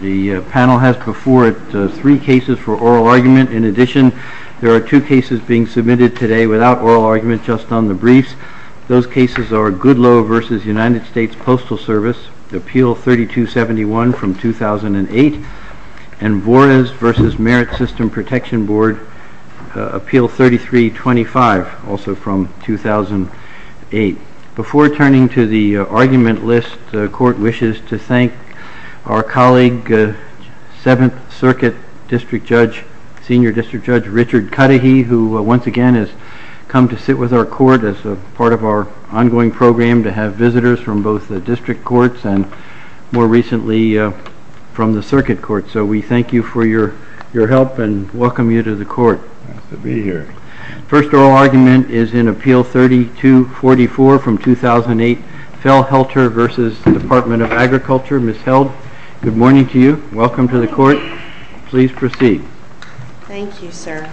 The panel has before it three cases for oral argument. In addition, there are two cases being submitted today without oral argument, just on the briefs. Those cases are Goodloe v. United States Postal Service, Appeal 3271 from 2008, and Vorez v. Merit System Protection Board, Appeal 3325, also from 2008. Before turning to the argument list, the Court wishes to thank our colleague, 7th Circuit District Judge, Senior District Judge Richard Cudahy, who once again has come to sit with our Court as part of our ongoing program to have visitors from both the District Courts and, more recently, from the Circuit Court. So we thank you for your help and welcome you to the Court. The first oral argument is in Appeal 3244 from 2008, Felhoelter v. Department of Agriculture. Ms. Held, good morning to you. Welcome to the Court. Please proceed. Thank you, sir.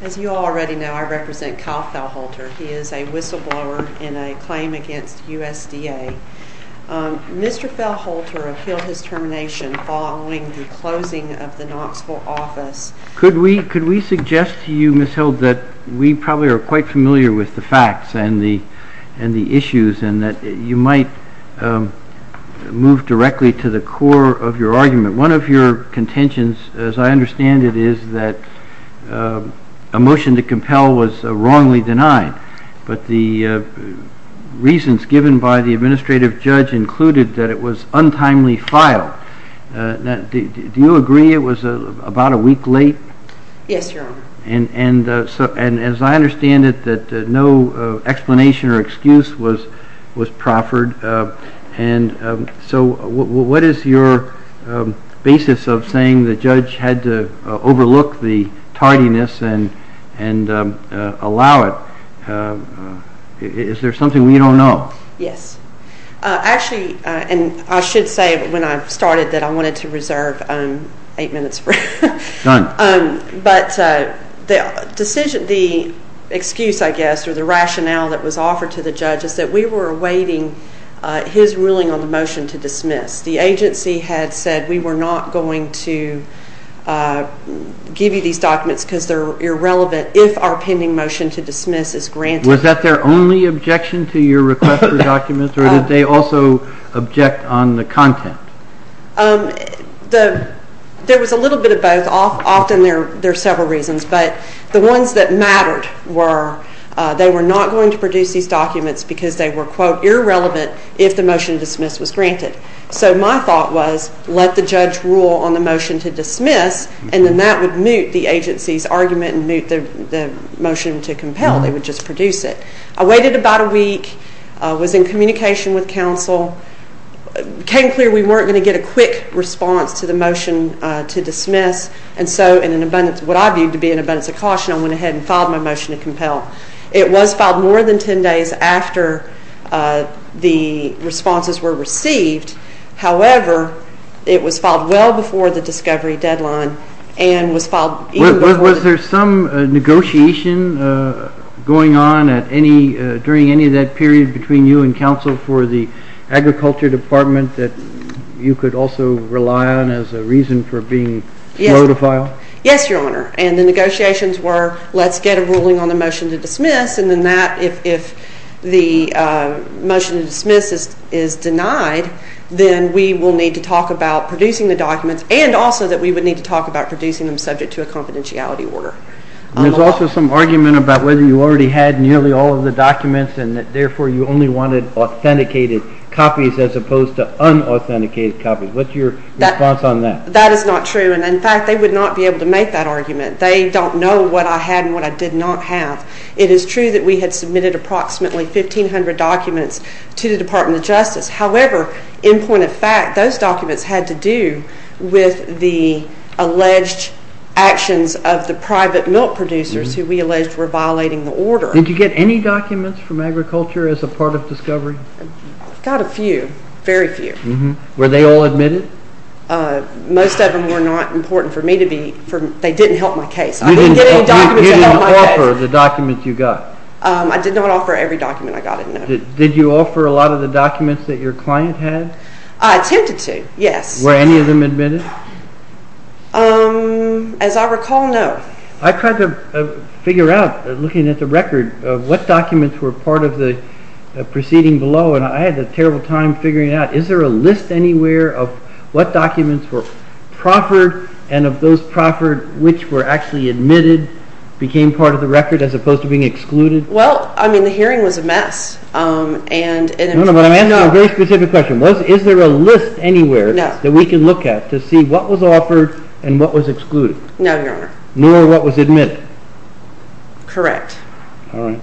As you all already know, I represent Kyle Felhoelter. He is a whistleblower in a claim against USDA. Mr. Felhoelter appealed his termination following the closing of the U.S. Department of Agriculture. I would suggest to you, Ms. Held, that we probably are quite familiar with the facts and the issues and that you might move directly to the core of your argument. One of your contentions, as I understand it, is that a motion to compel was wrongly denied, but the reasons given by the administrative judge included that it was untimely filed. Do you agree it was about a week late? Yes, Your Honor. And as I understand it, no explanation or excuse was proffered. So what is your basis of saying the judge had to overlook the tardiness and allow it? Is there something we don't know? Yes. Actually, I should say when I started that I wanted to reserve eight minutes. Done. But the excuse, I guess, or the rationale that was offered to the judge is that we were awaiting his ruling on the motion to dismiss. The agency had said we were not going to give you these documents because they are irrelevant if our pending motion to dismiss is granted. Was that their only objection to your request for documents, or did they also object on the content? There was a little bit of both. Often there are several reasons, but the ones that mattered were they were not going to produce these documents because they were, quote, irrelevant if the motion to dismiss was granted. So my thought was let the judge rule on the motion to dismiss and then that would mute the agency's argument and mute the motion to compel. They would just produce it. I waited about a week. I was in communication with counsel. It became clear we weren't going to get a quick response to the motion to dismiss, and so, in what I viewed to be an abundance of caution, I went ahead and filed my motion to compel. It was filed more than ten days after the responses were received. However, it was filed well before the discovery deadline and was filed… Was there some negotiation going on during any of that period between you and counsel for the agriculture department that you could also rely on as a reason for being slow to file? Yes, Your Honor, and the negotiations were let's get a ruling on the motion to dismiss and then that if the motion to dismiss is denied, then we will need to talk about producing the documents and also that we would need to talk about producing them subject to a confidentiality order. There's also some argument about whether you already had nearly all of the documents and that, therefore, you only wanted authenticated copies as opposed to unauthenticated copies. What's your response on that? That is not true, and, in fact, they would not be able to make that argument. They don't know what I had and what I did not have. It is true that we had submitted approximately 1,500 documents to the Department of Justice. However, in point of fact, those documents had to do with the alleged actions of the private milk producers who we alleged were violating the order. Did you get any documents from agriculture as a part of discovery? I got a few, very few. Were they all admitted? Most of them were not important for me to be, they didn't help my case. You didn't offer the documents you got? I did not offer every document I got, no. Did you offer a lot of the documents that your client had? I attempted to, yes. Were any of them admitted? As I recall, no. I tried to figure out, looking at the record, what documents were part of the proceeding below, and I had a terrible time figuring it out. Is there a list anywhere of what documents were proffered and of those proffered which were actually admitted, became part of the record, as opposed to being excluded? Well, I mean, the hearing was a mess. No, no, but I'm asking a very specific question. Is there a list anywhere that we can look at to see what was offered and what was excluded? No, Your Honor. Nor what was admitted? Correct. All right.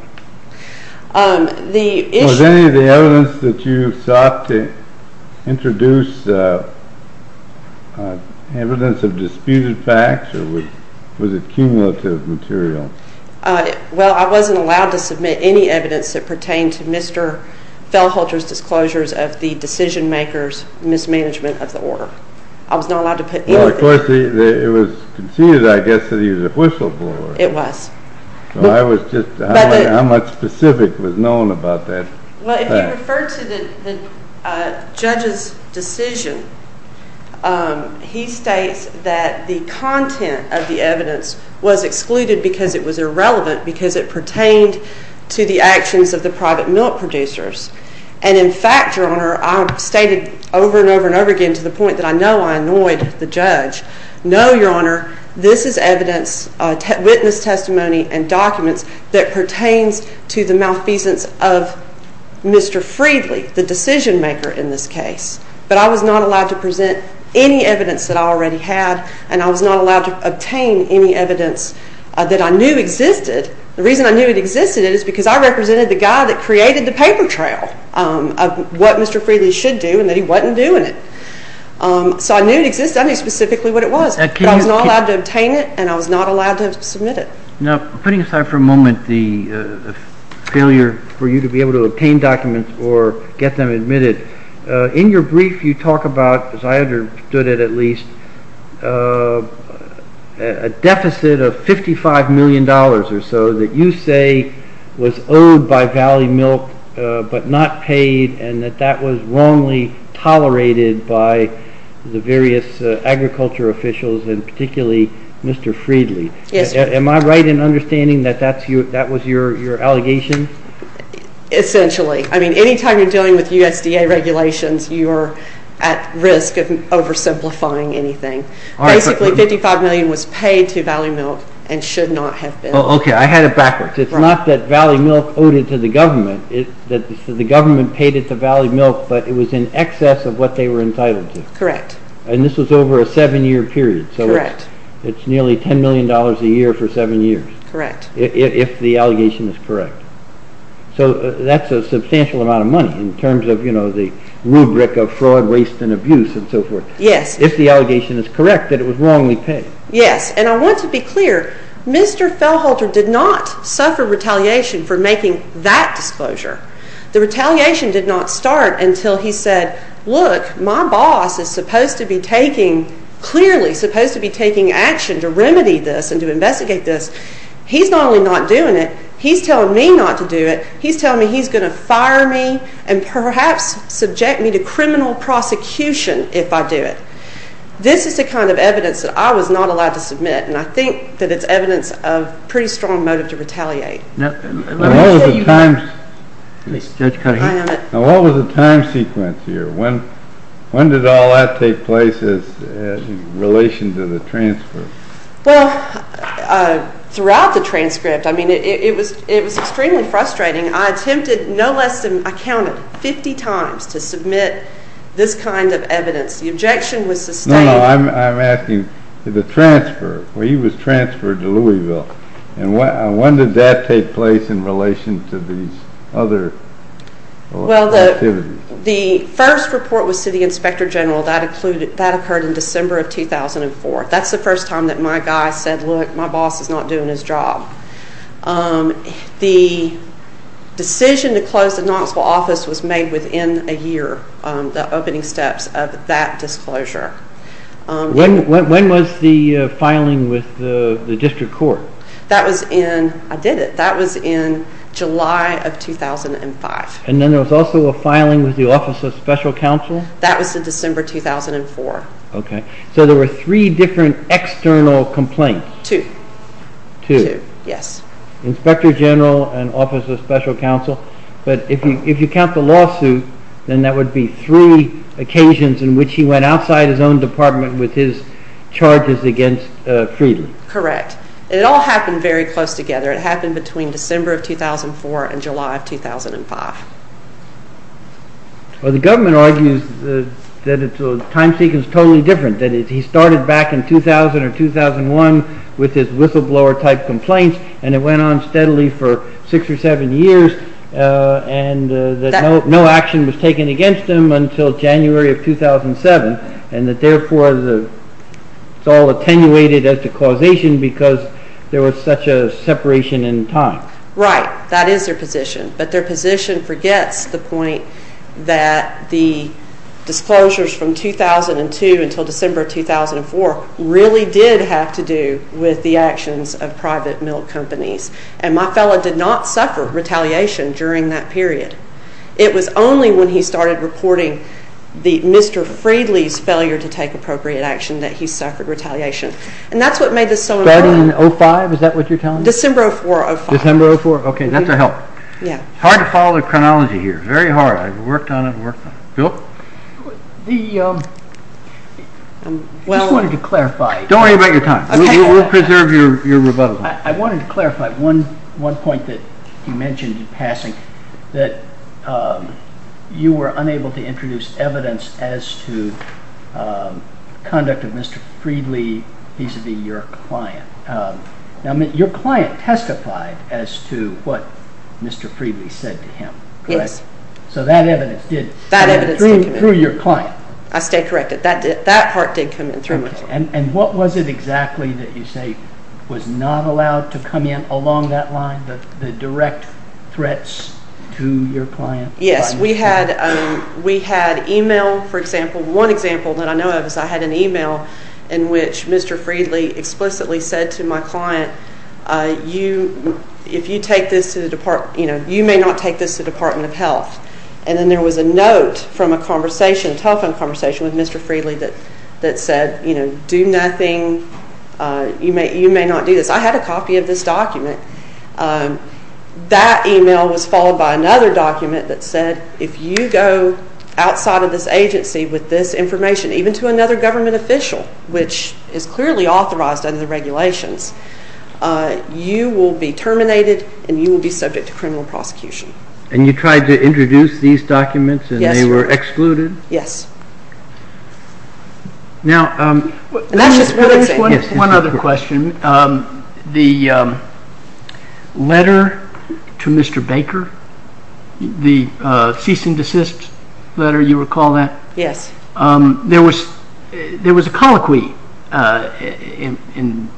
Was any of the evidence that you sought to introduce evidence of disputed facts or was it cumulative material? Well, I wasn't allowed to submit any evidence that pertained to Mr. Fellholter's disclosures of the decision-maker's mismanagement of the order. I was not allowed to put anything. Well, of course, it was conceded, I guess, that he was a whistleblower. It was. So I was just wondering how much specific was known about that. Well, if you refer to the judge's decision, he states that the content of the evidence was excluded because it was irrelevant, because it pertained to the actions of the private milk producers. And in fact, Your Honor, I've stated over and over and over again to the point that I know I annoyed the judge, no, Your Honor, this is evidence, witness testimony and documents that pertains to the malfeasance of Mr. Friedley, the decision-maker in this case. But I was not allowed to present any evidence that I already had, and I was not allowed to obtain any evidence that I knew existed. The reason I knew it existed is because I represented the guy that created the paper trail of what Mr. Friedley should do and that he wasn't doing it. So I knew it existed. I knew specifically what it was. But I was not allowed to obtain it, and I was not allowed to submit it. Now, putting aside for a moment the failure for you to be able to obtain documents or get them admitted, in your brief you talk about, as I understood it at least, a deficit of $55 million or so that you say was owed by Valley Milk but not paid and that that was wrongly tolerated by the various agriculture officials and particularly Mr. Friedley. Yes, Your Honor. Am I right in understanding that that was your allegation? Essentially. I mean, any time you're dealing with USDA regulations, you are at risk of oversimplifying anything. Basically, $55 million was paid to Valley Milk and should not have been. Okay, I had it backwards. It's not that Valley Milk owed it to the government. The government paid it to Valley Milk, but it was in excess of what they were entitled to. Correct. And this was over a seven-year period. Correct. So it's nearly $10 million a year for seven years. Correct. If the allegation is correct. So that's a substantial amount of money in terms of, you know, the rubric of fraud, waste, and abuse and so forth. Yes. If the allegation is correct that it was wrongly paid. Yes, and I want to be clear, Mr. Feldholter did not suffer retaliation for making that disclosure. The retaliation did not start until he said, look, my boss is supposed to be not only not doing it, he's telling me not to do it. He's telling me he's going to fire me and perhaps subject me to criminal prosecution if I do it. This is the kind of evidence that I was not allowed to submit, and I think that it's evidence of pretty strong motive to retaliate. Now, what was the time sequence here? When did all that take place in relation to the transfer? Well, throughout the transcript, I mean, it was extremely frustrating. I attempted no less than, I counted, 50 times to submit this kind of evidence. The objection was sustained. No, no, I'm asking, the transfer, when he was transferred to Louisville, and when did that take place in relation to these other activities? Well, the first report was to the Inspector General. That occurred in December of 2004. That's the first time that my guy said, look, my boss is not doing his job. The decision to close the Knoxville office was made within a year, the opening steps of that disclosure. When was the filing with the district court? That was in, I did it, that was in July of 2005. And then there was also a filing with the Office of Special Counsel? That was in December 2004. Okay. So there were three different external complaints? Two. Two. Two, yes. Inspector General and Office of Special Counsel, but if you count the lawsuit, then that would be three occasions in which he went outside his own department with his charges against Frieden. Correct. And it all happened very close together. It happened between December of 2004 and July of 2005. Well, the government argues that the time sequence is totally different, that he started back in 2000 or 2001 with his whistleblower-type complaints, and it went on steadily for six or seven years, and that no action was taken against him until January of 2007, and that therefore it's all attenuated as the causation because there was such a separation in time. Right. That is their position. But their position forgets the point that the disclosures from 2002 until December of 2004 really did have to do with the actions of private milk companies. And my fellow did not suffer retaliation during that period. It was only when he started reporting Mr. Frieden's failure to take appropriate action that he suffered retaliation. And that's what made this so important. Starting in 2005, is that what you're telling me? December of 2005. December of 2004. OK. That's a help. Yeah. It's hard to follow the chronology here. Very hard. I've worked on it and worked on it. Bill? I just wanted to clarify. Don't worry about your time. We'll preserve your rebuttal. I wanted to clarify one point that you mentioned in passing, that you were unable to introduce evidence as to conduct of Mr. Frieden vis-à-vis your client. Now, your client testified as to what Mr. Frieden said to him, correct? Yes. So that evidence did come in through your client. I stay corrected. That part did come in through my client. And what was it exactly that you say was not allowed to come in along that line, the direct threats to your client? Yes. We had email, for example. One example that I know of is I had an email in which Mr. Frieden explicitly said to my client, you may not take this to the Department of Health. And then there was a note from a telephone conversation with Mr. Frieden that said, do nothing. You may not do this. I had a copy of this document. That email was followed by another document that said, if you go outside of this agency with this which is clearly authorized under the regulations, you will be terminated and you will be subject to criminal prosecution. And you tried to introduce these documents and they were excluded? Yes. Now, one other question. The letter to Mr. Baker, the cease and desist letter, you recall that? Yes. There was a colloquy in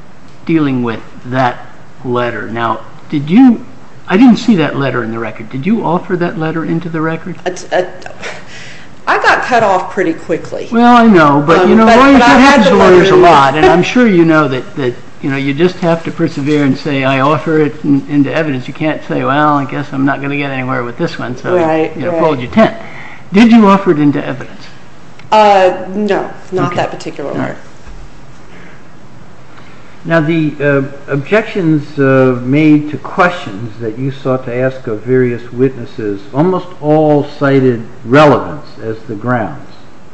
dealing with that letter. Now, I didn't see that letter in the record. Did you offer that letter into the record? I got cut off pretty quickly. Well, I know, but lawyers are lawyers a lot. And I'm sure you know that you just have to persevere and say, I offer it into evidence. You can't say, well, I guess I'm not going to get anywhere with this one, so I fold you 10. Did you offer it into evidence? No, not that particular letter. Now, the objections made to questions that you sought to ask of various witnesses, almost all cited relevance as the grounds.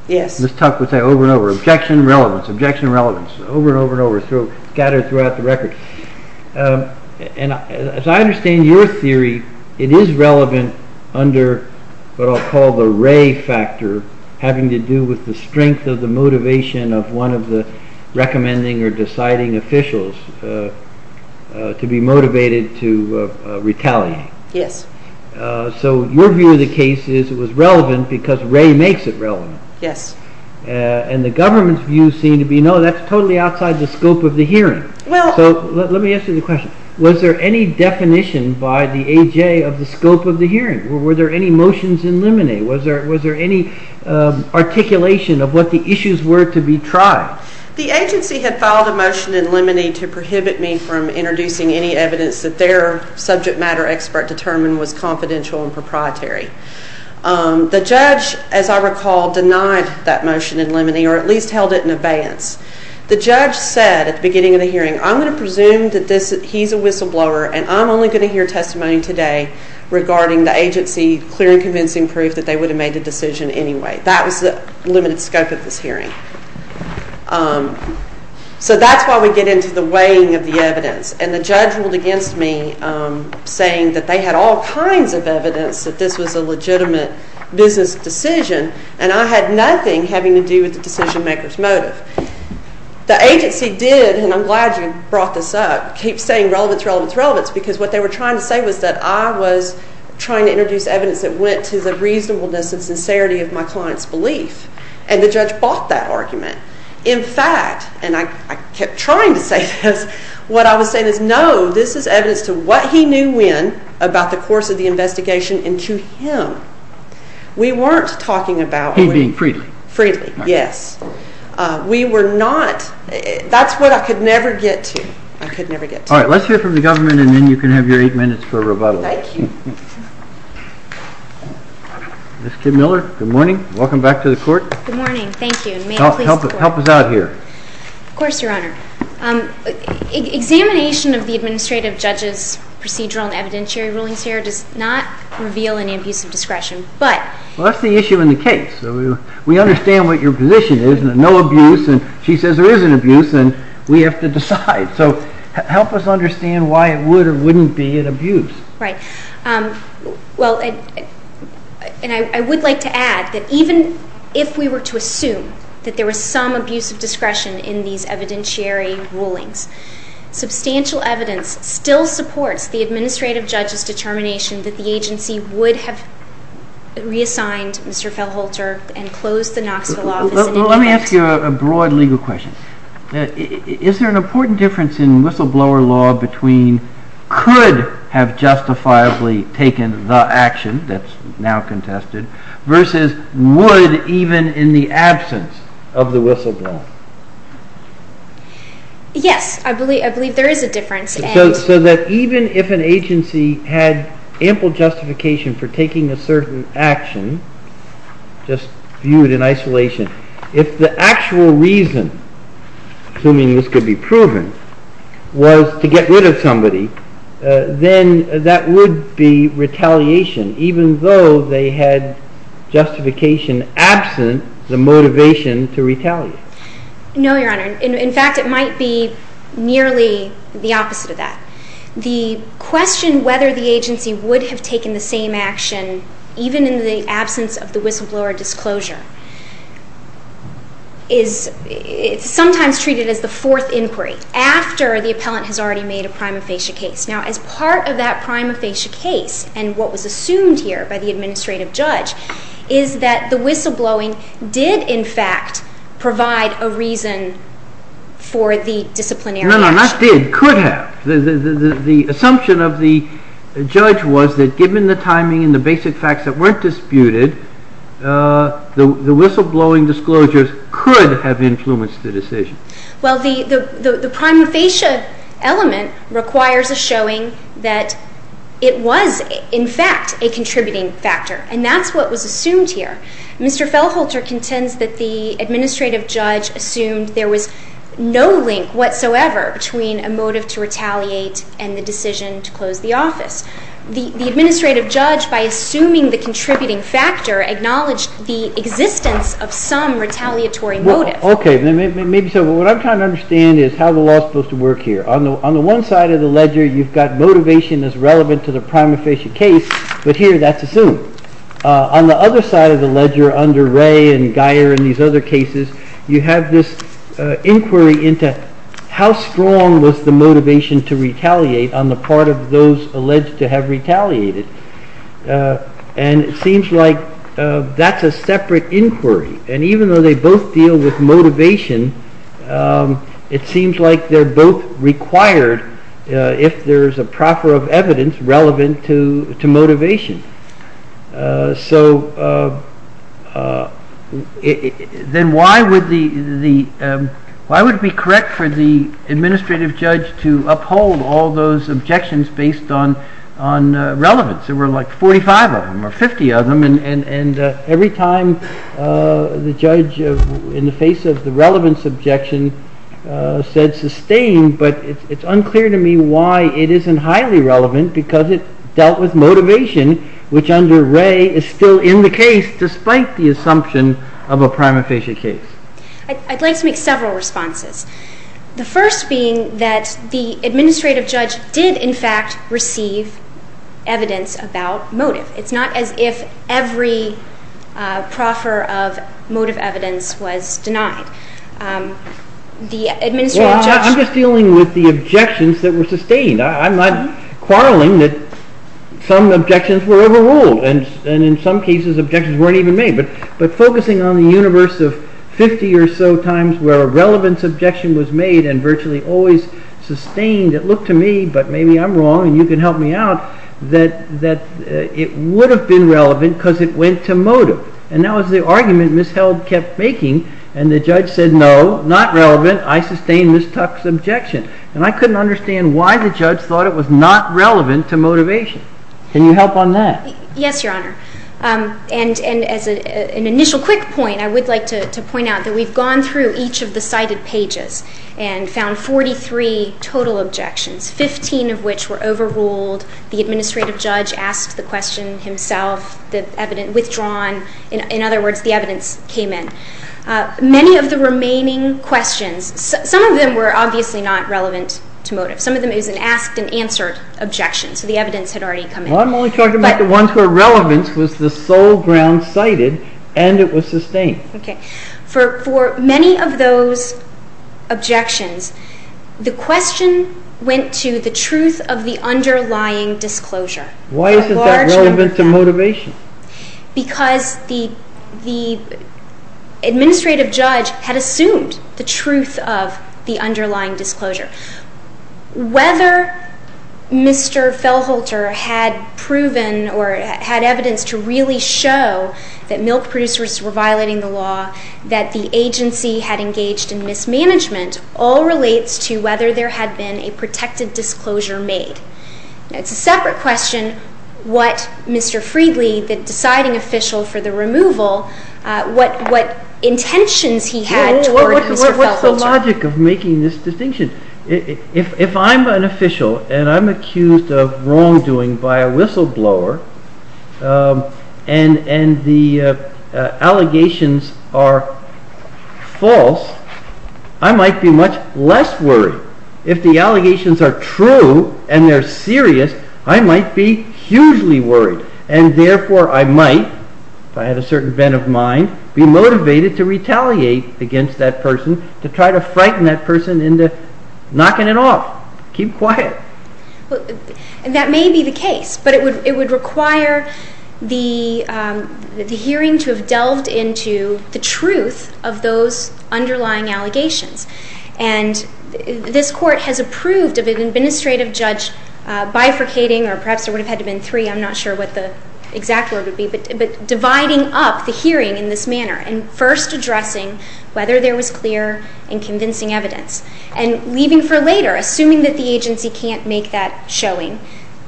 Yes. Ms. Tuck would say over and over, objection, relevance, objection, relevance, over and As I understand your theory, it is relevant under what I'll call the Ray factor, having to do with the strength of the motivation of one of the recommending or deciding officials to be motivated to retaliate. Yes. So your view of the case is it was relevant because Ray makes it relevant. Yes. And the government's view seemed to be, no, that's totally outside the scope of the hearing. Well So let me ask you the question. Was there any definition by the AJ of the scope of the hearing? Were there any motions in limine? Was there any articulation of what the issues were to be tried? The agency had filed a motion in limine to prohibit me from introducing any evidence that their subject matter expert determined was confidential and proprietary. The judge, as I recall, denied that motion in limine or at least held it in abeyance. The judge said at the beginning of the hearing, I'm going to presume that he's a whistleblower and I'm only going to hear testimony today regarding the agency clearing convincing proof that they would have made a decision anyway. That was the limited scope of this hearing. So that's why we get into the weighing of the evidence. And the judge ruled against me saying that they had all kinds of evidence that this was a legitimate business decision and I had nothing having to do with the decision maker's motive. The agency did, and I'm glad you brought this up, keep saying relevance, relevance, relevance because what they were trying to say was that I was trying to introduce evidence that went to the reasonableness and sincerity of my client's belief. And the judge bought that argument. In fact, and I kept trying to say this, what I was saying is no, this is evidence to what he knew when about the course of the investigation and to him. We weren't talking about... He being freely. Freely, yes. We were not, that's what I could never get to. I could never get to. All right, let's hear from the government and then you can have your eight minutes for rebuttal. Thank you. Ms. Kim Miller, good morning, welcome back to the court. Good morning, thank you. Help us out here. Of course, Your Honor. Examination of the administrative judge's procedural and evidentiary rulings here does not reveal any abuse of discretion, but... Well, that's the issue in the case. We understand what your position is, no abuse, and she says there is an abuse and we have to decide. So help us understand why it would or wouldn't be an abuse. Right. Well, and I would like to add that even if we were to assume that there was some abuse of discretion in these evidentiary rulings, substantial evidence still supports the administrative judge's determination that the agency would have reassigned Mr. Fell Holter and closed the Knoxville office. Let me ask you a broad legal question. Is there an important difference in whistleblower law between could have justifiably taken the action that's now contested versus would even in the absence of the whistleblower? Yes, I believe there is a difference. So that even if an agency had ample justification for taking a certain action, just viewed in isolation, if the actual reason, assuming this could be proven, was to get rid of somebody, then that would be retaliation, even though they had justification absent the motivation to retaliate. No, Your Honor. In fact, it might be nearly the opposite of that. The question whether the agency would have taken the same action, even in the absence of the whistleblower disclosure, is sometimes treated as the fourth inquiry, after the appellant has already made a prima facie case. Now, as part of that prima facie case, and what was assumed here by the administrative judge, is that the whistleblowing did, in fact, provide a reason for the disciplinary action. No, no, not did. Could have. The assumption of the judge was that given the timing and the basic facts that weren't disputed, the whistleblowing disclosures could have influenced the decision. Well, the prima facie element requires a showing that it was, in fact, a contributing factor, and that's what was assumed here. Mr. Fellholter contends that the administrative judge assumed there was no link whatsoever between a motive to retaliate and the decision to close the office. The administrative judge, by assuming the contributing factor, acknowledged the existence of some retaliatory motive. OK, maybe so. What I'm trying to understand is how the law is supposed to work here. On the one side of the ledger, you've got motivation as relevant to the prima facie case, but here that's assumed. On the other side of the ledger, under Ray and Geyer and these other cases, you have this inquiry into how strong was the motivation to retaliate on the part of those alleged to have retaliated. And it seems like that's a separate inquiry, and even though they both deal with motivation, it seems like they're both required if there's a proffer of evidence relevant to motivation. So then why would it be correct for the administrative judge to uphold all those objections based on relevance? There were like 45 of them or 50 of them, and every time the judge, in the face of the relevance objection, said sustain, but it's unclear to me why it isn't highly relevant, because it dealt with motivation, which under Ray is still in the case despite the assumption of a prima facie case. I'd like to make several responses, the first being that the administrative judge did in evidence about motive. It's not as if every proffer of motive evidence was denied. I'm just dealing with the objections that were sustained. I'm not quarreling that some objections were overruled, and in some cases objections weren't even made, but focusing on the universe of 50 or so times where a relevance objection was made and virtually always sustained, it looked to me, but maybe I'm wrong and you can help me out, that it would have been relevant because it went to motive, and that was the argument Ms. Held kept making, and the judge said no, not relevant, I sustain Ms. Tuck's objection, and I couldn't understand why the judge thought it was not relevant to motivation. Can you help on that? Yes, Your Honor, and as an initial quick point, I would like to point out that we've gone through each of the cited pages and found 43 total objections, 15 of which were overruled, the administrative judge asked the question himself, withdrawn, in other words, the evidence came in. Many of the remaining questions, some of them were obviously not relevant to motive. Some of them is an asked and answered objection, so the evidence had already come in. Well, I'm only talking about the ones where relevance was the sole ground cited and it was sustained. Okay. For many of those objections, the question went to the truth of the underlying disclosure. Why is it that relevant to motivation? Because the administrative judge had assumed the truth of the underlying disclosure. Whether Mr. Fellholter had proven or had evidence to really show that milk producers were violating the law, that the agency had engaged in mismanagement, all relates to whether there had been a protected disclosure made. It's a separate question what Mr. Freedly, the deciding official for the removal, what intentions he had toward Mr. Fellholter. What's the logic of making this distinction? If I'm an official and I'm accused of wrongdoing by a whistleblower and the allegations are false, I might be much less worried. If the allegations are true and they're serious, I might be hugely worried and therefore I might, if I had a certain bent of mind, be motivated to retaliate against that person to try to frighten that person into knocking it off, keep quiet. That may be the case, but it would require the hearing to have delved into the truth of those underlying allegations. And this court has approved of an administrative judge bifurcating, or perhaps there would have had to have been three, I'm not sure what the exact word would be, but dividing up the hearing in this manner and first addressing whether there was clear and convincing evidence. And leaving for later, assuming that the agency can't make that showing,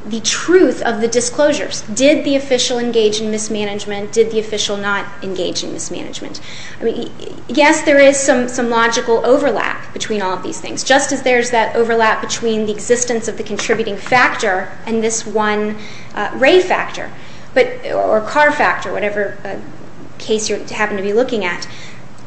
the truth of the disclosures. Did the official engage in mismanagement? Did the official not engage in mismanagement? Yes, there is some logical overlap between all of these things, just as there's that overlap between the existence of the contributing factor and this one ray factor, or car factor, whatever case you happen to be looking at.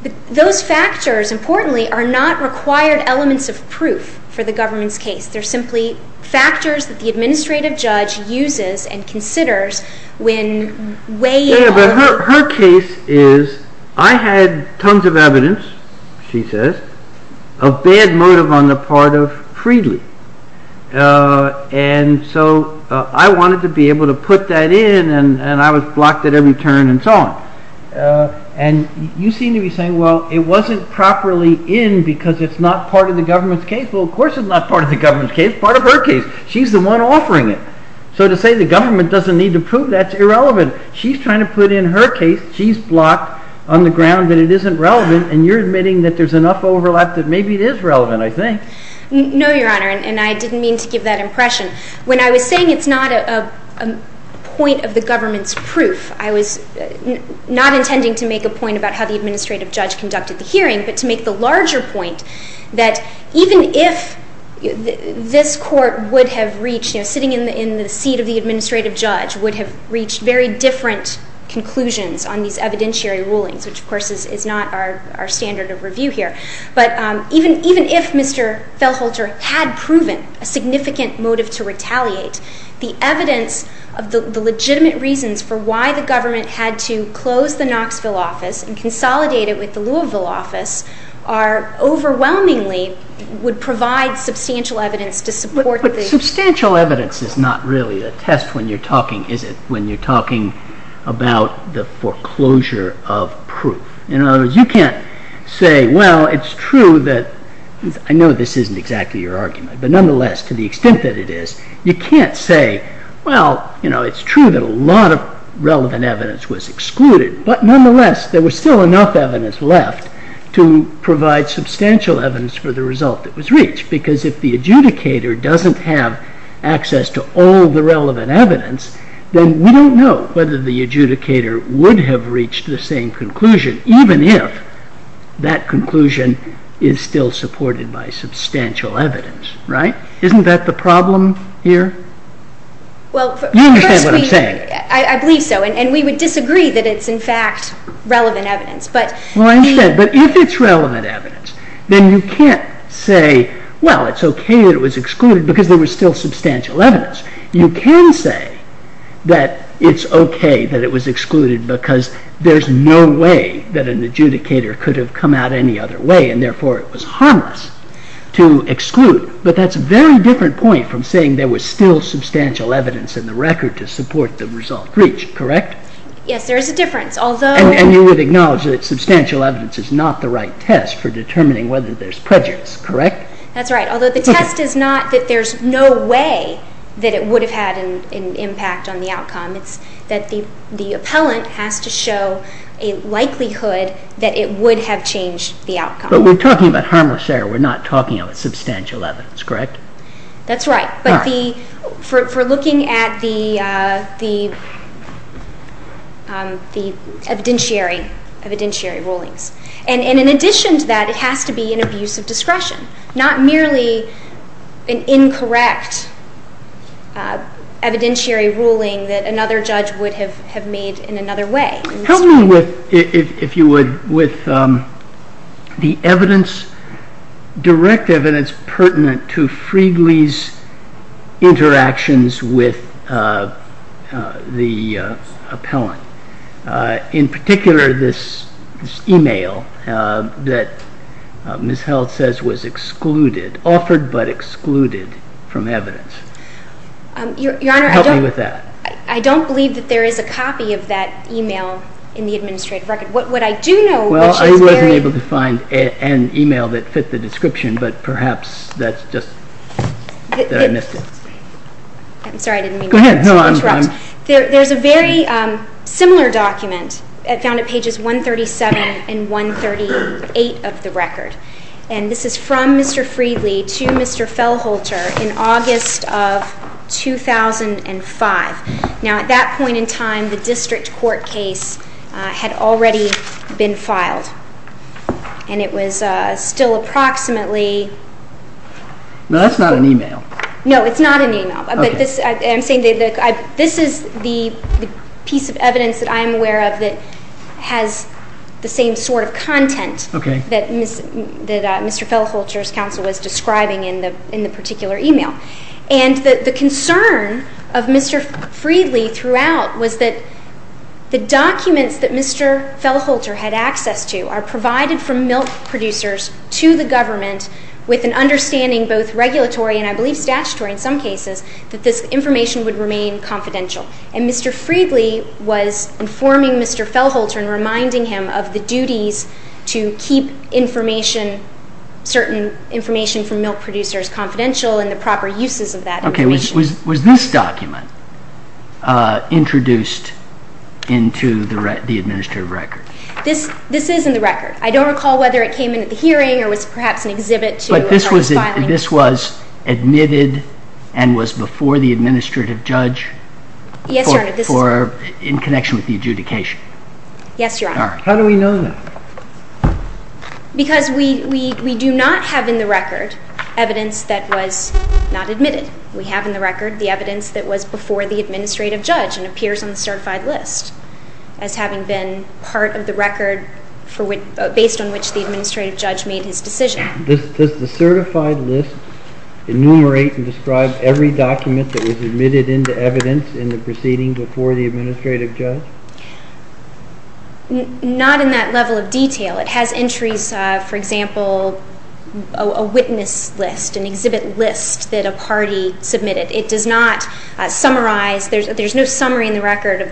But those factors, importantly, are not required elements of proof for the government's case. They're simply factors that the administrative judge uses and considers when weighing all the... And so I wanted to be able to put that in, and I was blocked at every turn and so on. And you seem to be saying, well, it wasn't properly in because it's not part of the government's case. Well, of course it's not part of the government's case. It's part of her case. She's the one offering it. So to say the government doesn't need to prove that's irrelevant. She's trying to put in her case. She's blocked on the ground that it isn't relevant, and you're admitting that there's enough overlap that maybe it is relevant, I think. No, Your Honor, and I didn't mean to give that impression. When I was saying it's not a point of the government's proof, I was not intending to make a point about how the administrative judge conducted the hearing, but to make the larger point that even if this court would have reached, sitting in the seat of the administrative judge, would have reached very different conclusions on these evidentiary rulings, which, of course, is not our standard of review here. But even if Mr. Feltholter had proven a significant motive to retaliate, the evidence of the legitimate reasons for why the government had to close the Knoxville office and consolidate it with the Louisville office are overwhelmingly would provide substantial evidence to support the... But substantial evidence is not really the test when you're talking, is it, when say, well, it's true that... I know this isn't exactly your argument, but nonetheless, to the extent that it is, you can't say, well, you know, it's true that a lot of relevant evidence was excluded, but nonetheless, there was still enough evidence left to provide substantial evidence for the result that was reached, because if the adjudicator doesn't have access to all the relevant evidence, then we don't know whether the adjudicator would have reached the same conclusion, even if that conclusion is still supported by substantial evidence, right? Isn't that the problem here? Well, first we... You understand what I'm saying? I believe so, and we would disagree that it's in fact relevant evidence, but... Well, I understand, but if it's relevant evidence, then you can't say, well, it's okay that it was excluded because there was still substantial evidence. You can say that it's okay that it was excluded because there's no way that an adjudicator could have come out any other way, and therefore it was harmless to exclude, but that's a very different point from saying there was still substantial evidence in the record to support the result reached, correct? Yes, there is a difference, although... And you would acknowledge that substantial evidence is not the right test for determining whether there's prejudice, correct? That's right, although the test is not that there's no way that it would have had an impact on the outcome. It's that the appellant has to show a likelihood that it would have changed the outcome. But we're talking about harmless error. We're not talking about substantial evidence, correct? That's right. All right. But for looking at the evidentiary rulings, and in addition to that, it has to be an abuse of discretion, not merely an incorrect evidentiary ruling that another judge would have made in another way. Help me with, if you would, with the evidence, direct evidence pertinent to Friegle's interactions with the appellant. In particular, this email that Ms. Held says was excluded, offered but excluded from evidence. Help me with that. Your Honor, I don't believe that there is a copy of that email in the administrative record. What I do know, which is very... I'm sorry, I didn't mean to interrupt. Go ahead. There's a very similar document found at pages 137 and 138 of the record, and this is from Mr. Friegle to Mr. Fellholter in August of 2005. Now, at that point in time, the district court case had already been filed, and it was still approximately... No, that's not an email. No, it's not an email. Okay. I'm saying that this is the piece of evidence that I'm aware of that has the same sort of content that Mr. Fellholter's counsel was describing in the particular email. And the concern of Mr. Friegle throughout was that the documents that Mr. Fellholter had access to are provided from milk producers to the government with an understanding, both regulatory and I believe statutory in some cases, that this information would remain confidential. And Mr. Friegle was informing Mr. Fellholter and reminding him of the duties to keep information, certain information from milk producers confidential and the proper uses of that information. Okay. Was this document introduced into the administrative record? This is in the record. I don't recall whether it came into the hearing or was perhaps an exhibit to... But this was admitted and was before the administrative judge in connection with the adjudication? Yes, Your Honor. How do we know that? Because we do not have in the record evidence that was not admitted. We have in the record the evidence that was before the administrative judge and appears on the certified list as having been part of the record based on which the administrative judge made his decision. Does the certified list enumerate and describe every document that was admitted into evidence in the proceeding before the administrative judge? Not in that level of detail. It has entries, for example, a witness list, an exhibit list that a party submitted. It does not summarize. There's no summary in the record of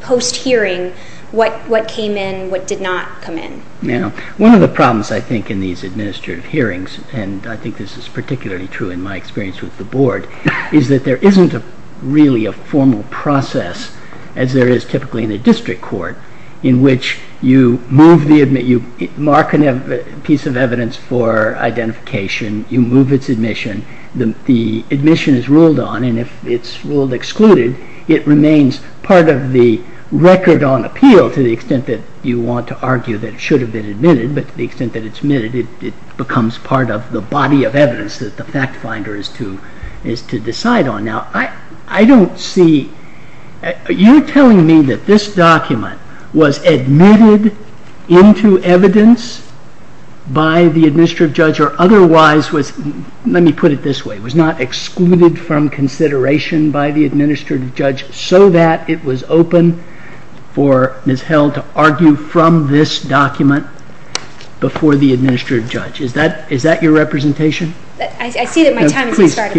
post-hearing what came in, what did not come in. Now, one of the problems, I think, in these administrative hearings, and I think this is particularly true in my experience with the Board, is that there isn't really a formal process as there is typically in a district court in which you mark a piece of evidence for identification, you move its admission. The admission is ruled on, and if it's ruled excluded, it remains part of the record on appeal to the extent that you want to argue that it should have been admitted, but to the extent that it's admitted, it becomes part of the body of evidence that the fact finder is to decide on. Now, I don't see, you're telling me that this document was admitted into evidence by the administrative judge or otherwise was, let me put it this way, was not excluded from consideration by the administrative judge so that it was open for Ms. Held to argue from this document before the administrative judge. Is that your representation? I see that my time has started.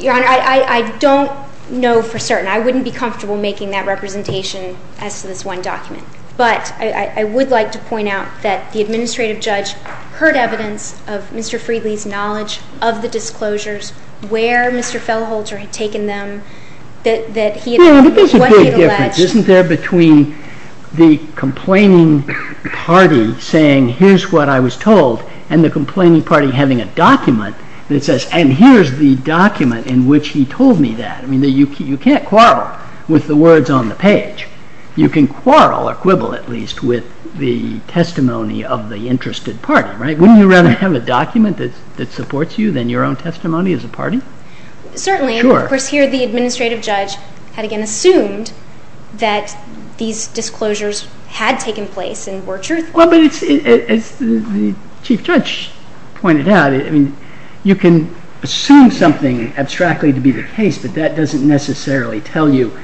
Your Honor, I don't know for certain. I wouldn't be comfortable making that representation as to this one document, but I would like to point out that the administrative judge heard evidence of Mr. Friedley's knowledge of the disclosures, where Mr. Feldholzer had taken them, that he had made what he had alleged. Well, there is a big difference. Isn't there between the complaining party saying, here's what I was told, and the complaining party having a document that says, and here's the document in which he told me that. I mean, you can't quarrel with the words on the page. You can quarrel, or quibble at least, with the testimony of the interested party. Wouldn't you rather have a document that supports you than your own testimony as a party? Certainly. Of course, here the administrative judge had again assumed that these disclosures had taken place and were truthful. Well, but as the chief judge pointed out, you can assume something abstractly to be the case, but that doesn't necessarily tell you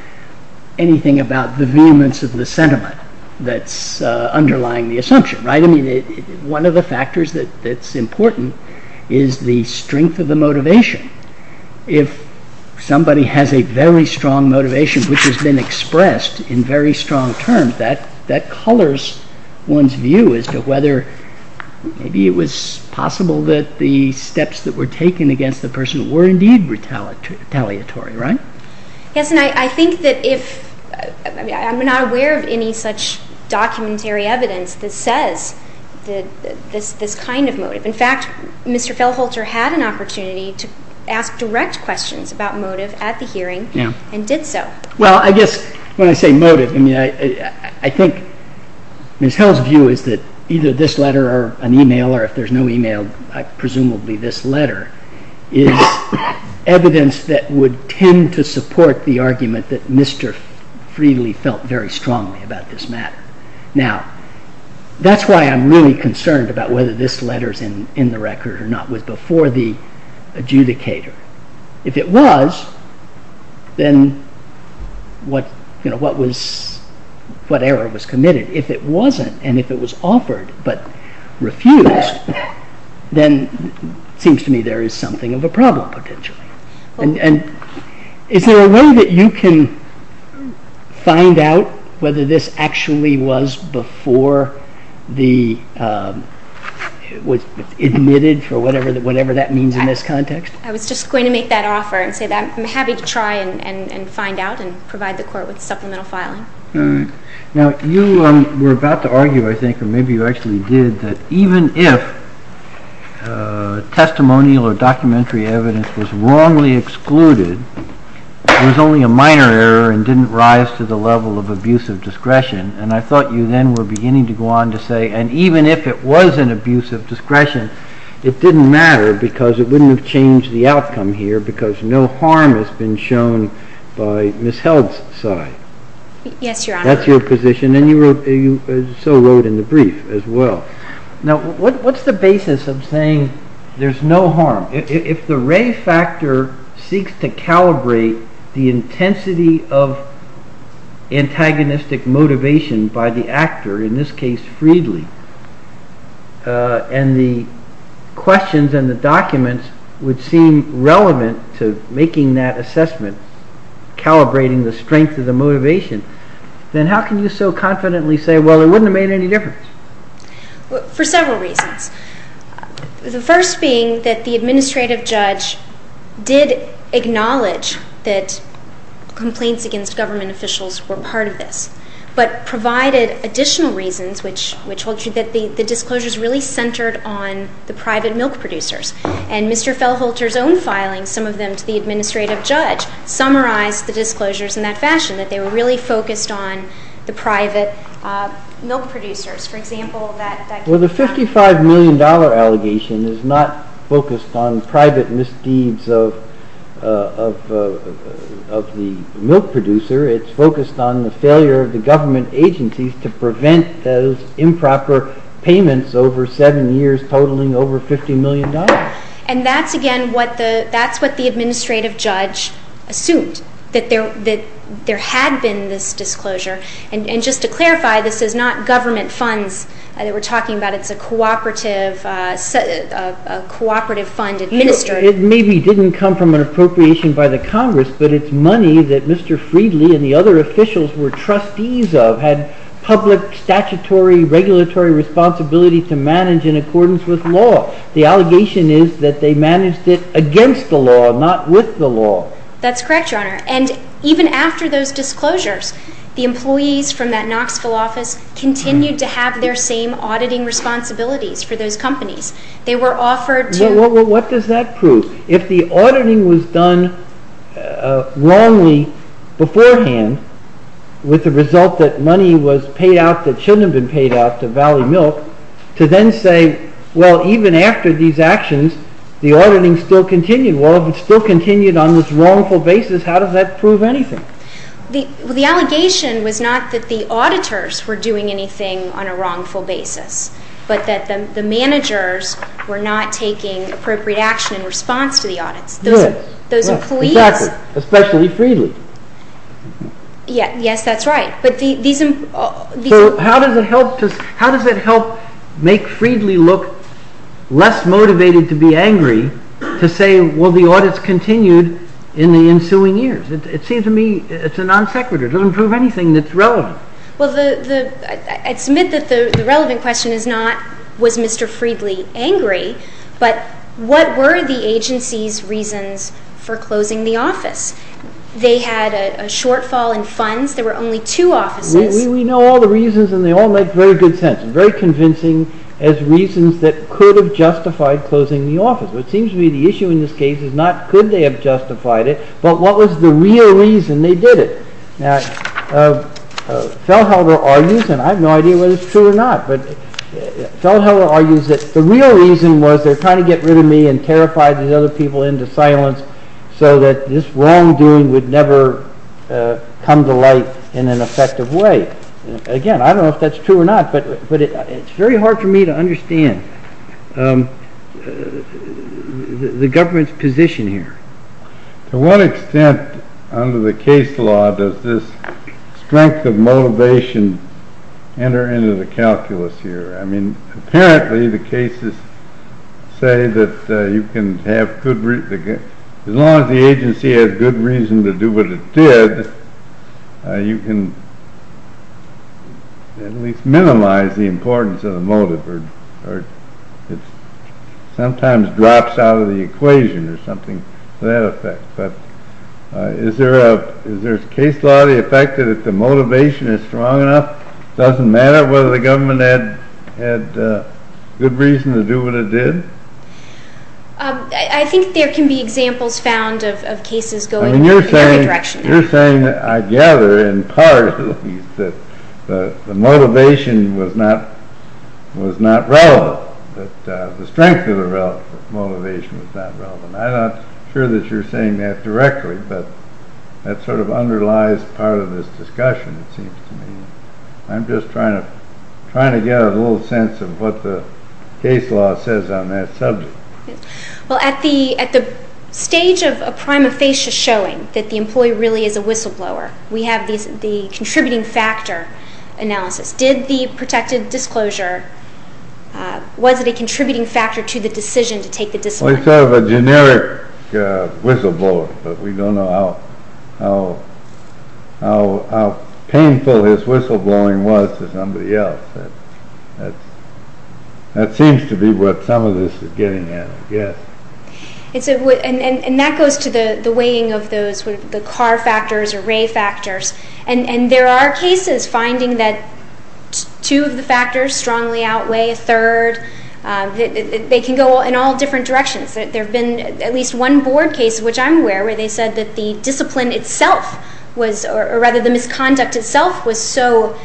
anything about the vehemence of the sentiment that's underlying the assumption, right? I mean, one of the factors that's important is the strength of the motivation. If somebody has a very strong motivation, which has been expressed in very strong terms, that colors one's view as to whether maybe it was possible that the steps that were taken against the person were indeed retaliatory, right? Yes, and I think that if, I mean, I'm not aware of any such documentary evidence that says this kind of motive. In fact, Mr. Fellholter had an opportunity to ask direct questions about motive at the hearing and did so. Well, I guess when I say motive, I mean, I think Ms. Hill's view is that either this letter or an email, or if there's no email, presumably this letter, is evidence that would tend to support the argument that Mr. Friedli felt very strongly about this matter. Now, that's why I'm really concerned about whether this letter's in the record or not, was before the adjudicator. If it was, then what error was committed? If it wasn't, and if it was offered but refused, then it seems to me there is something of a problem potentially. And is there a way that you can find out whether this actually was before it was admitted, for whatever that means in this context? I was just going to make that offer and say that I'm happy to try and find out and provide the court with supplemental filing. Now, you were about to argue, I think, or maybe you actually did, that even if testimonial or documentary evidence was wrongly excluded, there was only a minor error and didn't rise to the level of abusive discretion. And I thought you then were beginning to go on to say, and even if it was an abuse of discretion, it didn't matter because it wouldn't have changed the outcome here because no harm has been shown by Ms. Held's side. Yes, Your Honor. That's your position, and you so wrote in the brief as well. Now, what's the basis of saying there's no harm? If the ray factor seeks to calibrate the intensity of antagonistic motivation by the actor, in this case, Freedly, and the questions and the documents would seem relevant to making that assessment, calibrating the strength of the motivation, then how can you so confidently say, well, it wouldn't have made any difference? For several reasons. The first being that the administrative judge did acknowledge that complaints against government officials were part of this, but provided additional reasons, which told you that the disclosures really centered on the private milk producers. And Mr. Felholter's own filing, some of them to the administrative judge, summarized the disclosures in that fashion, that they were really focused on the private milk producers. For example, that- Well, the $55 million allegation is not focused on private misdeeds of the milk producer. It's focused on the failure of the government agencies to prevent those improper payments over seven years, totaling over $50 million. And that's, again, what the administrative judge assumed, that there had been this disclosure. And just to clarify, this is not government funds that we're talking about. It's a cooperative fund administered. It maybe didn't come from an appropriation by the Congress, but it's money that Mr. Freedly and the other officials were trustees of, had public statutory regulatory responsibility to manage in accordance with law. The allegation is that they managed it against the law, not with the law. That's correct, Your Honor. And even after those disclosures, the employees from that Knoxville office continued to have their same auditing responsibilities for those companies. They were offered to- Well, what does that prove? If the auditing was done wrongly beforehand, with the result that money was paid out that shouldn't have been paid out to Valley Milk, to then say, well, even after these actions, the auditing still continued. Well, if it still continued on this wrongful basis, how does that prove anything? The allegation was not that the auditors were doing anything on a wrongful basis, but that the managers were not taking appropriate action in response to the audits. Good. Those employees- Exactly. Especially Freedly. Yes, that's right. But these- So how does it help make Freedly look less motivated to be angry to say, well, the audits continued in the ensuing years? It seems to me it's a non sequitur. It doesn't prove anything that's relevant. Well, I'd submit that the relevant question is not, was Mr. Freedly angry? But what were the agency's reasons for closing the office? They had a shortfall in funds. There were only two offices. We know all the reasons, and they all make very good sense, and very convincing as reasons that could have justified closing the office. But it seems to me the issue in this case is not could they have justified it, but what was the real reason they did it? Now, Feldhelder argues, and I have no idea whether it's true or not, but Feldhelder argues that the real reason was they're trying to get rid of me and terrify these other people into silence so that this wrongdoing would never come to light in an effective way. Again, I don't know if that's true or not, but it's very hard for me to understand the government's position here. To what extent under the case law does this strength of motivation enter into the calculus here? I mean, apparently the cases say that as long as the agency has good reason to do what it did, you can at least minimize the importance of the motive, or it sometimes drops out of the equation or something to that effect. But is there a case law effect that the motivation is strong enough? It doesn't matter whether the government had good reason to do what it did? I think there can be examples found of cases going in every direction. You're saying that I gather in part that the motivation was not relevant, that the strength of the motivation was not relevant. I'm not sure that you're saying that directly, but that sort of underlies part of this discussion, it seems to me. I'm just trying to get a little sense of what the case law says on that subject. Well, at the stage of a prima facie showing that the employee really is a whistleblower, we have the contributing factor analysis. Did the protected disclosure, was it a contributing factor to the decision to take the disciplinary action? Well, he's sort of a generic whistleblower, but we don't know how painful his whistleblowing was to somebody else. That seems to be what some of this is getting at, I guess. And that goes to the weighing of the car factors or ray factors. And there are cases finding that two of the factors strongly outweigh a third. They can go in all different directions. There have been at least one board case, which I'm aware of, where they said that the discipline itself, or rather the misconduct itself, was so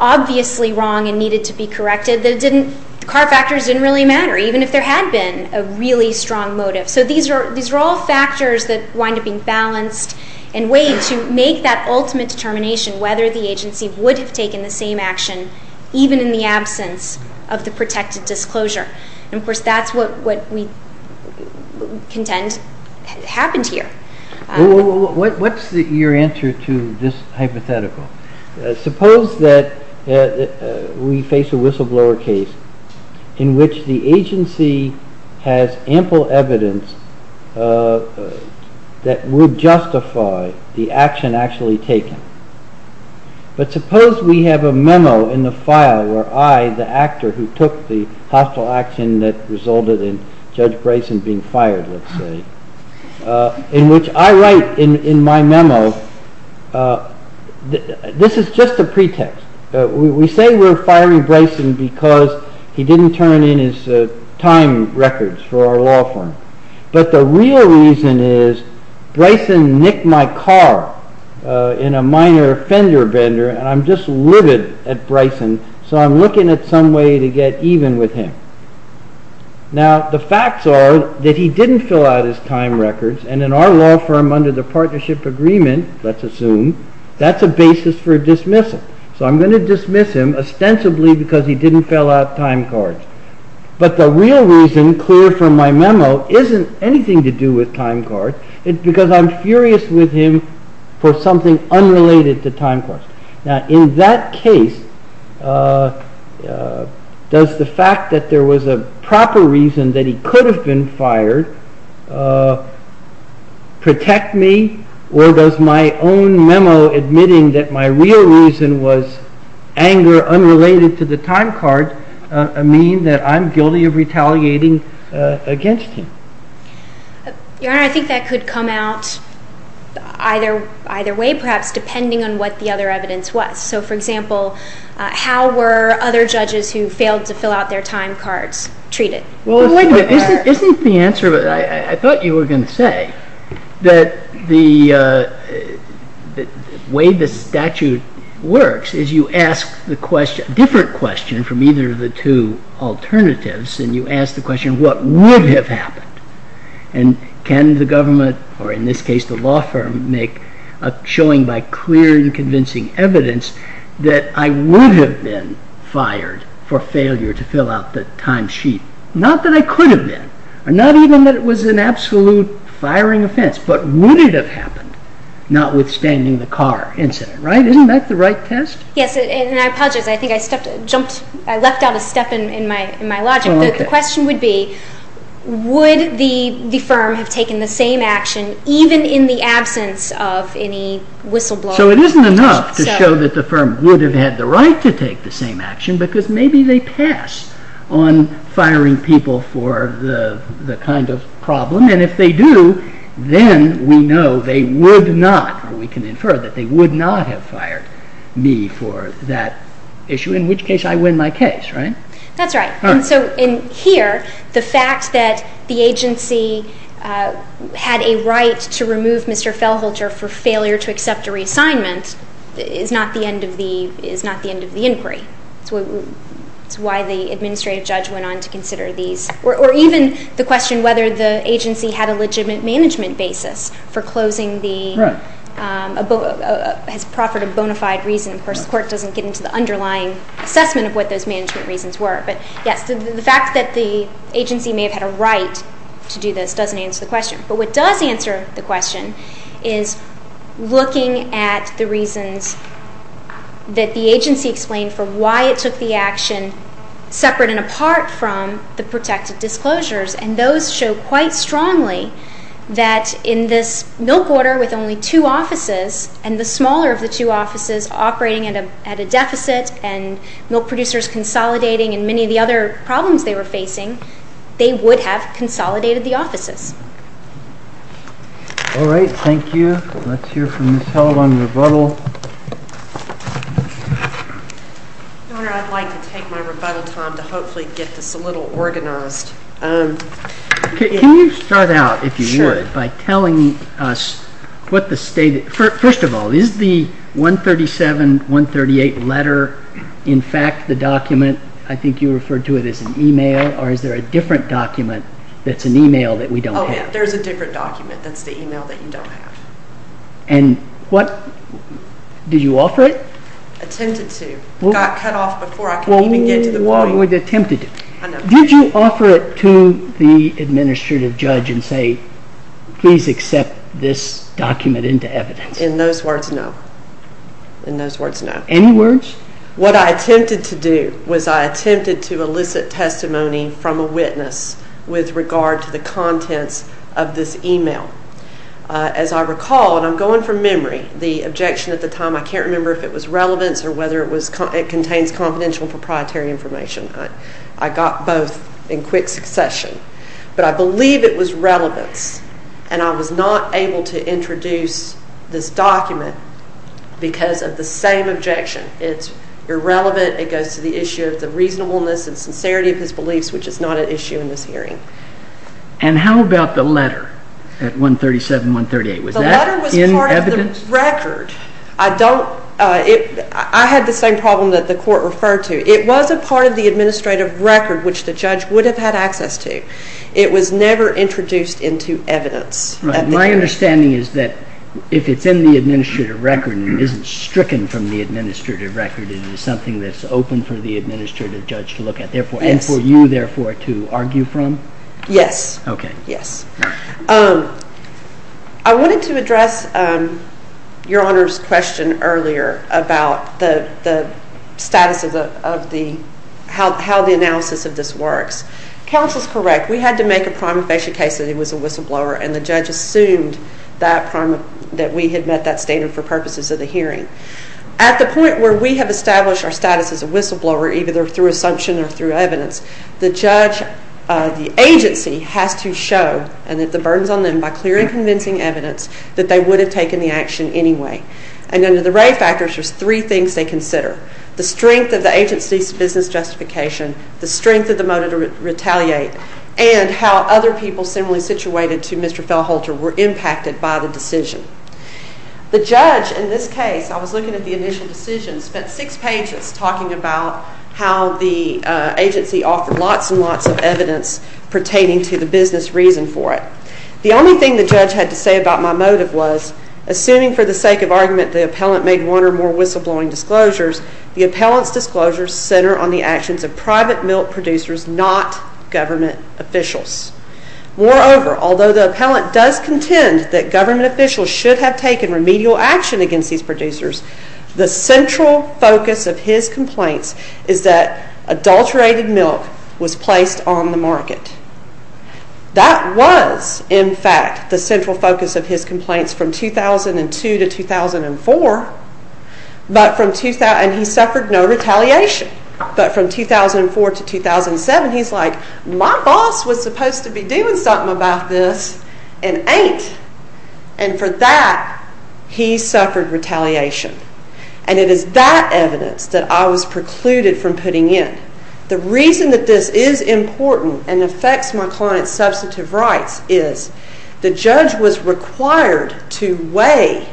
obviously wrong and needed to be corrected that the car factors didn't really matter, even if there had been a really strong motive. So these are all factors that wind up being balanced in a way to make that ultimate determination whether the agency would have taken the same action, even in the absence of the protected disclosure. And, of course, that's what we contend happened here. What's your answer to this hypothetical? Suppose that we face a whistleblower case in which the agency has ample evidence that would justify the action actually taken. But suppose we have a memo in the file where I, the actor who took the hostile action that resulted in Judge Brayson being fired, let's say, in which I write in my memo, this is just a pretext. We say we're firing Brayson because he didn't turn in his time records for our law firm. But the real reason is Brayson nicked my car in a minor fender bender and I'm just livid at Brayson so I'm looking at some way to get even with him. Now, the facts are that he didn't fill out his time records and in our law firm under the partnership agreement, let's assume, that's a basis for dismissal. So I'm going to dismiss him ostensibly because he didn't fill out time cards. But the real reason, clear from my memo, isn't anything to do with time cards. It's because I'm furious with him for something unrelated to time cards. Now, in that case, does the fact that there was a proper reason that he could have been fired protect me or does my own memo admitting that my real reason was anger unrelated to the time card mean that I'm guilty of retaliating against him? Your Honor, I think that could come out either way, perhaps depending on what the other evidence was. So, for example, how were other judges who failed to fill out their time cards treated? Well, wait a minute. Isn't the answer, I thought you were going to say, that the way the statute works is you ask a different question from either of the two alternatives and you ask the question, what would have happened? And can the government, or in this case the law firm, make a showing by clear and convincing evidence that I would have been fired for failure to fill out the time sheet? Not that I could have been, or not even that it was an absolute firing offense, but would it have happened, notwithstanding the car incident, right? Isn't that the right test? Yes, and I apologize. I think I left out a step in my logic. The question would be, would the firm have taken the same action even in the absence of any whistleblower? So it isn't enough to show that the firm would have had the right to take the same action because maybe they pass on firing people for the kind of problem, and if they do, then we know they would not, or we can infer that they would not have fired me for that issue, in which case I win my case, right? That's right. And so in here, the fact that the agency had a right to remove Mr. Fellholter for failure to accept a reassignment is not the end of the inquiry. That's why the administrative judge went on to consider these, or even the question whether the agency had a legitimate management basis for closing the proffered and bona fide reason. Of course, the court doesn't get into the underlying assessment of what those management reasons were, but yes, the fact that the agency may have had a right to do this doesn't answer the question. But what does answer the question is looking at the reasons that the agency explained for why it took the action separate and apart from the protected disclosures, and those show quite strongly that in this milk order with only two offices and the smaller of the two offices operating at a deficit and milk producers consolidating and many of the other problems they were facing, they would have consolidated the offices. All right. Thank you. Let's hear from Ms. Held on rebuttal. Your Honor, I'd like to take my rebuttal time to hopefully get this a little organized. Can you start out, if you would, by telling us what the state is? First of all, is the 137, 138 letter in fact the document? I think you referred to it as an e-mail, or is there a different document that's an e-mail that we don't have? Oh, yeah. There's a different document that's the e-mail that you don't have. And what did you offer it? Attempted to. It got cut off before I could even get to the point. Well, you attempted to. I know. Did you offer it to the administrative judge and say, please accept this document into evidence? In those words, no. In those words, no. Any words? What I attempted to do was I attempted to elicit testimony from a witness with regard to the contents of this e-mail. As I recall, and I'm going from memory, the objection at the time, I can't remember if it was relevance or whether it contains confidential proprietary information. I got both in quick succession. But I believe it was relevance, and I was not able to introduce this document because of the same objection. It's irrelevant. It goes to the issue of the reasonableness and sincerity of his beliefs, which is not an issue in this hearing. And how about the letter at 137, 138? Was that in evidence? The letter was part of the record. I had the same problem that the court referred to. It was a part of the administrative record, which the judge would have had access to. It was never introduced into evidence. Right. My understanding is that if it's in the administrative record and isn't stricken from the administrative record, it is something that's open for the administrative judge to look at. And for you, therefore, to argue from? Yes. Okay. Yes. I wanted to address Your Honor's question earlier about how the analysis of this works. Counsel is correct. We had to make a prima facie case that it was a whistleblower, and the judge assumed that we had met that standard for purposes of the hearing. At the point where we have established our status as a whistleblower, either through assumption or through evidence, the judge, the agency, has to show, and that the burden is on them by clear and convincing evidence, that they would have taken the action anyway. And under the Ray factors, there's three things they consider. The strength of the agency's business justification, the strength of the motive to retaliate, and how other people similarly situated to Mr. Fellholter were impacted by the decision. The judge, in this case, I was looking at the initial decision, spent six pages talking about how the agency offered lots and lots of evidence pertaining to the business reason for it. The only thing the judge had to say about my motive was, assuming for the sake of argument the appellant made one or more whistleblowing disclosures, the appellant's disclosures center on the actions of private milk producers, not government officials. Moreover, although the appellant does contend that government officials should have taken remedial action against these producers, the central focus of his complaints is that adulterated milk was placed on the market. That was, in fact, the central focus of his complaints from 2002 to 2004, and he suffered no retaliation. But from 2004 to 2007, he's like, my boss was supposed to be doing something about this and ain't. And for that, he suffered retaliation. And it is that evidence that I was precluded from putting in. The reason that this is important and affects my client's substantive rights is the judge was required to weigh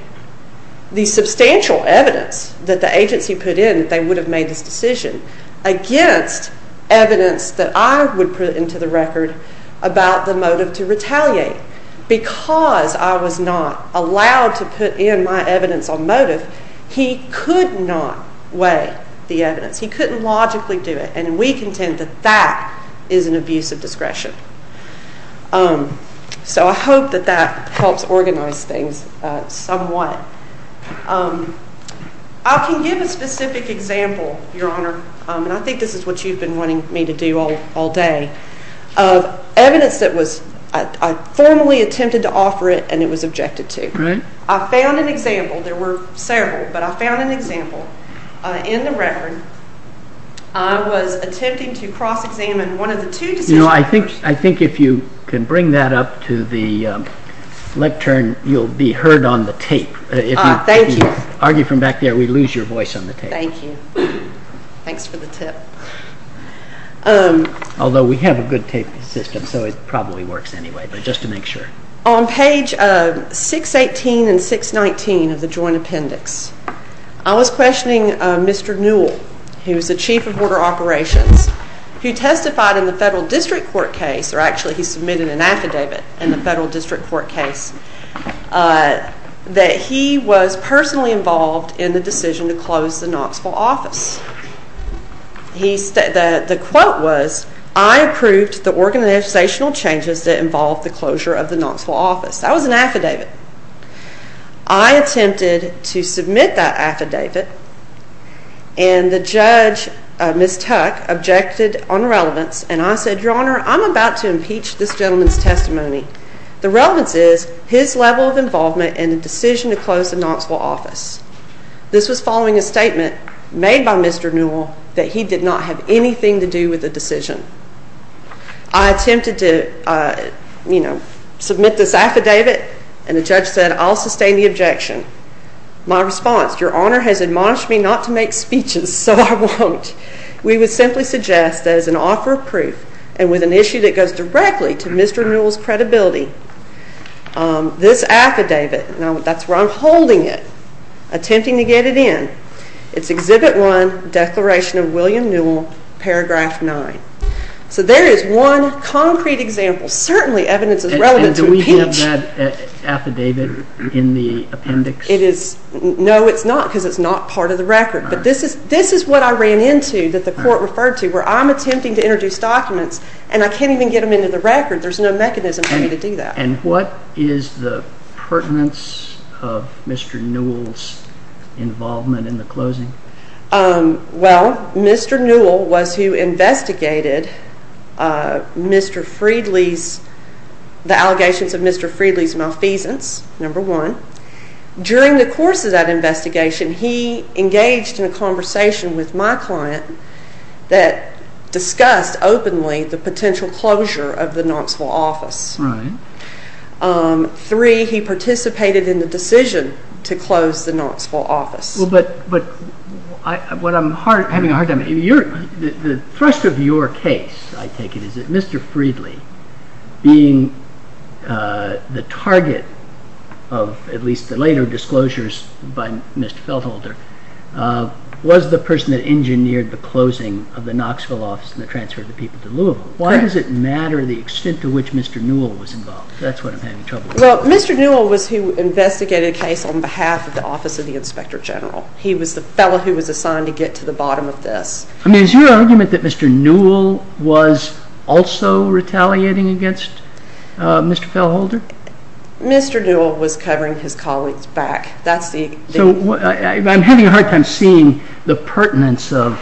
the substantial evidence that the agency put in that they would have made this decision against evidence that I would put into the record about the motive to retaliate because I was not allowed to put in my evidence on motive. He could not weigh the evidence. He couldn't logically do it. And we contend that that is an abuse of discretion. So I hope that that helps organize things somewhat. I can give a specific example, Your Honor, and I think this is what you've been wanting me to do all day, of evidence that I formally attempted to offer it and it was objected to. I found an example. There were several, but I found an example in the record. I was attempting to cross-examine one of the two decisions. You know, I think if you can bring that up to the lectern, you'll be heard on the tape. Thank you. If you argue from back there, we lose your voice on the tape. Thank you. Thanks for the tip. Although we have a good tape system, so it probably works anyway, but just to make sure. On page 618 and 619 of the Joint Appendix, I was questioning Mr. Newell, who is the Chief of Border Operations, who testified in the Federal District Court case, or actually he submitted an affidavit in the Federal District Court case, that he was personally involved in the decision to close the Knoxville office. The quote was, I approved the organizational changes that involved the closure of the Knoxville office. That was an affidavit. I attempted to submit that affidavit, and the judge, Ms. Tuck, objected on relevance, and I said, Your Honor, I'm about to impeach this gentleman's testimony. The relevance is his level of involvement in the decision to close the Knoxville office. This was following a statement made by Mr. Newell that he did not have anything to do with the decision. I attempted to submit this affidavit, and the judge said, I'll sustain the objection. My response, Your Honor has admonished me not to make speeches, so I won't. We would simply suggest that as an offer of proof, and with an issue that goes directly to Mr. Newell's credibility, this affidavit, and that's where I'm holding it, attempting to get it in, it's Exhibit 1, Declaration of William Newell, Paragraph 9. So there is one concrete example. Certainly evidence is relevant to impeach. And do we have that affidavit in the appendix? No, it's not, because it's not part of the record. But this is what I ran into that the court referred to, where I'm attempting to introduce documents, and I can't even get them into the record. There's no mechanism for me to do that. And what is the pertinence of Mr. Newell's involvement in the closing? Well, Mr. Newell was who investigated Mr. Friedley's, the allegations of Mr. Friedley's malfeasance, number one. During the course of that investigation, he engaged in a conversation with my client that discussed openly the potential closure of the Knoxville office. Right. Three, he participated in the decision to close the Knoxville office. Well, but what I'm having a hard time, the thrust of your case, I take it, is that Mr. Friedley, being the target of at least the later disclosures by Mr. Feltholder, was the person that engineered the closing of the Knoxville office and the transfer of the people to Louisville. Why does it matter the extent to which Mr. Newell was involved? That's what I'm having trouble with. Well, Mr. Newell was who investigated a case on behalf of the Office of the Inspector General. He was the fellow who was assigned to get to the bottom of this. I mean, is your argument that Mr. Newell was also retaliating against Mr. Feltholder? Mr. Newell was covering his colleagues' back. That's the thing. So I'm having a hard time seeing the pertinence of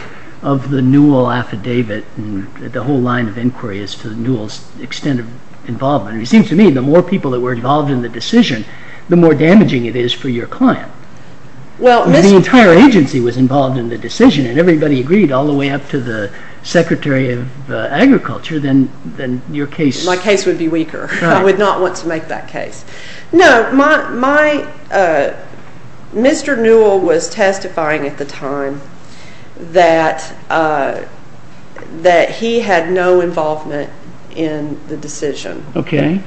the Newell affidavit and the whole line of inquiry as to Newell's extent of involvement. It seems to me the more people that were involved in the decision, the more damaging it is for your client. If the entire agency was involved in the decision and everybody agreed all the way up to the Secretary of Agriculture, then your case... My case would be weaker. I would not want to make that case. No, Mr. Newell was testifying at the time that he had no involvement in the decision. Okay.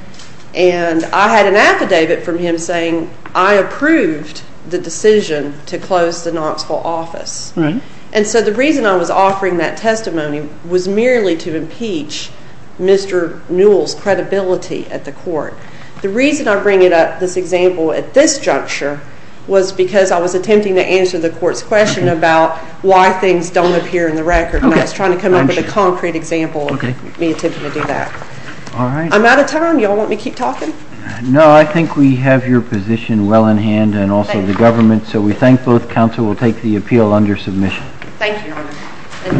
And I had an affidavit from him saying I approved the decision to close the Knoxville office. Right. And so the reason I was offering that testimony was merely to impeach Mr. Newell's credibility at the court. The reason I bring it up, this example, at this juncture was because I was attempting to answer the court's question about why things don't appear in the record, and I was trying to come up with a concrete example of me attempting to do that. All right. I'm out of time. You all want me to keep talking? No, I think we have your position well in hand and also the government's, so we thank both counsel. We'll take the appeal under submission. Thank you, Your Honor.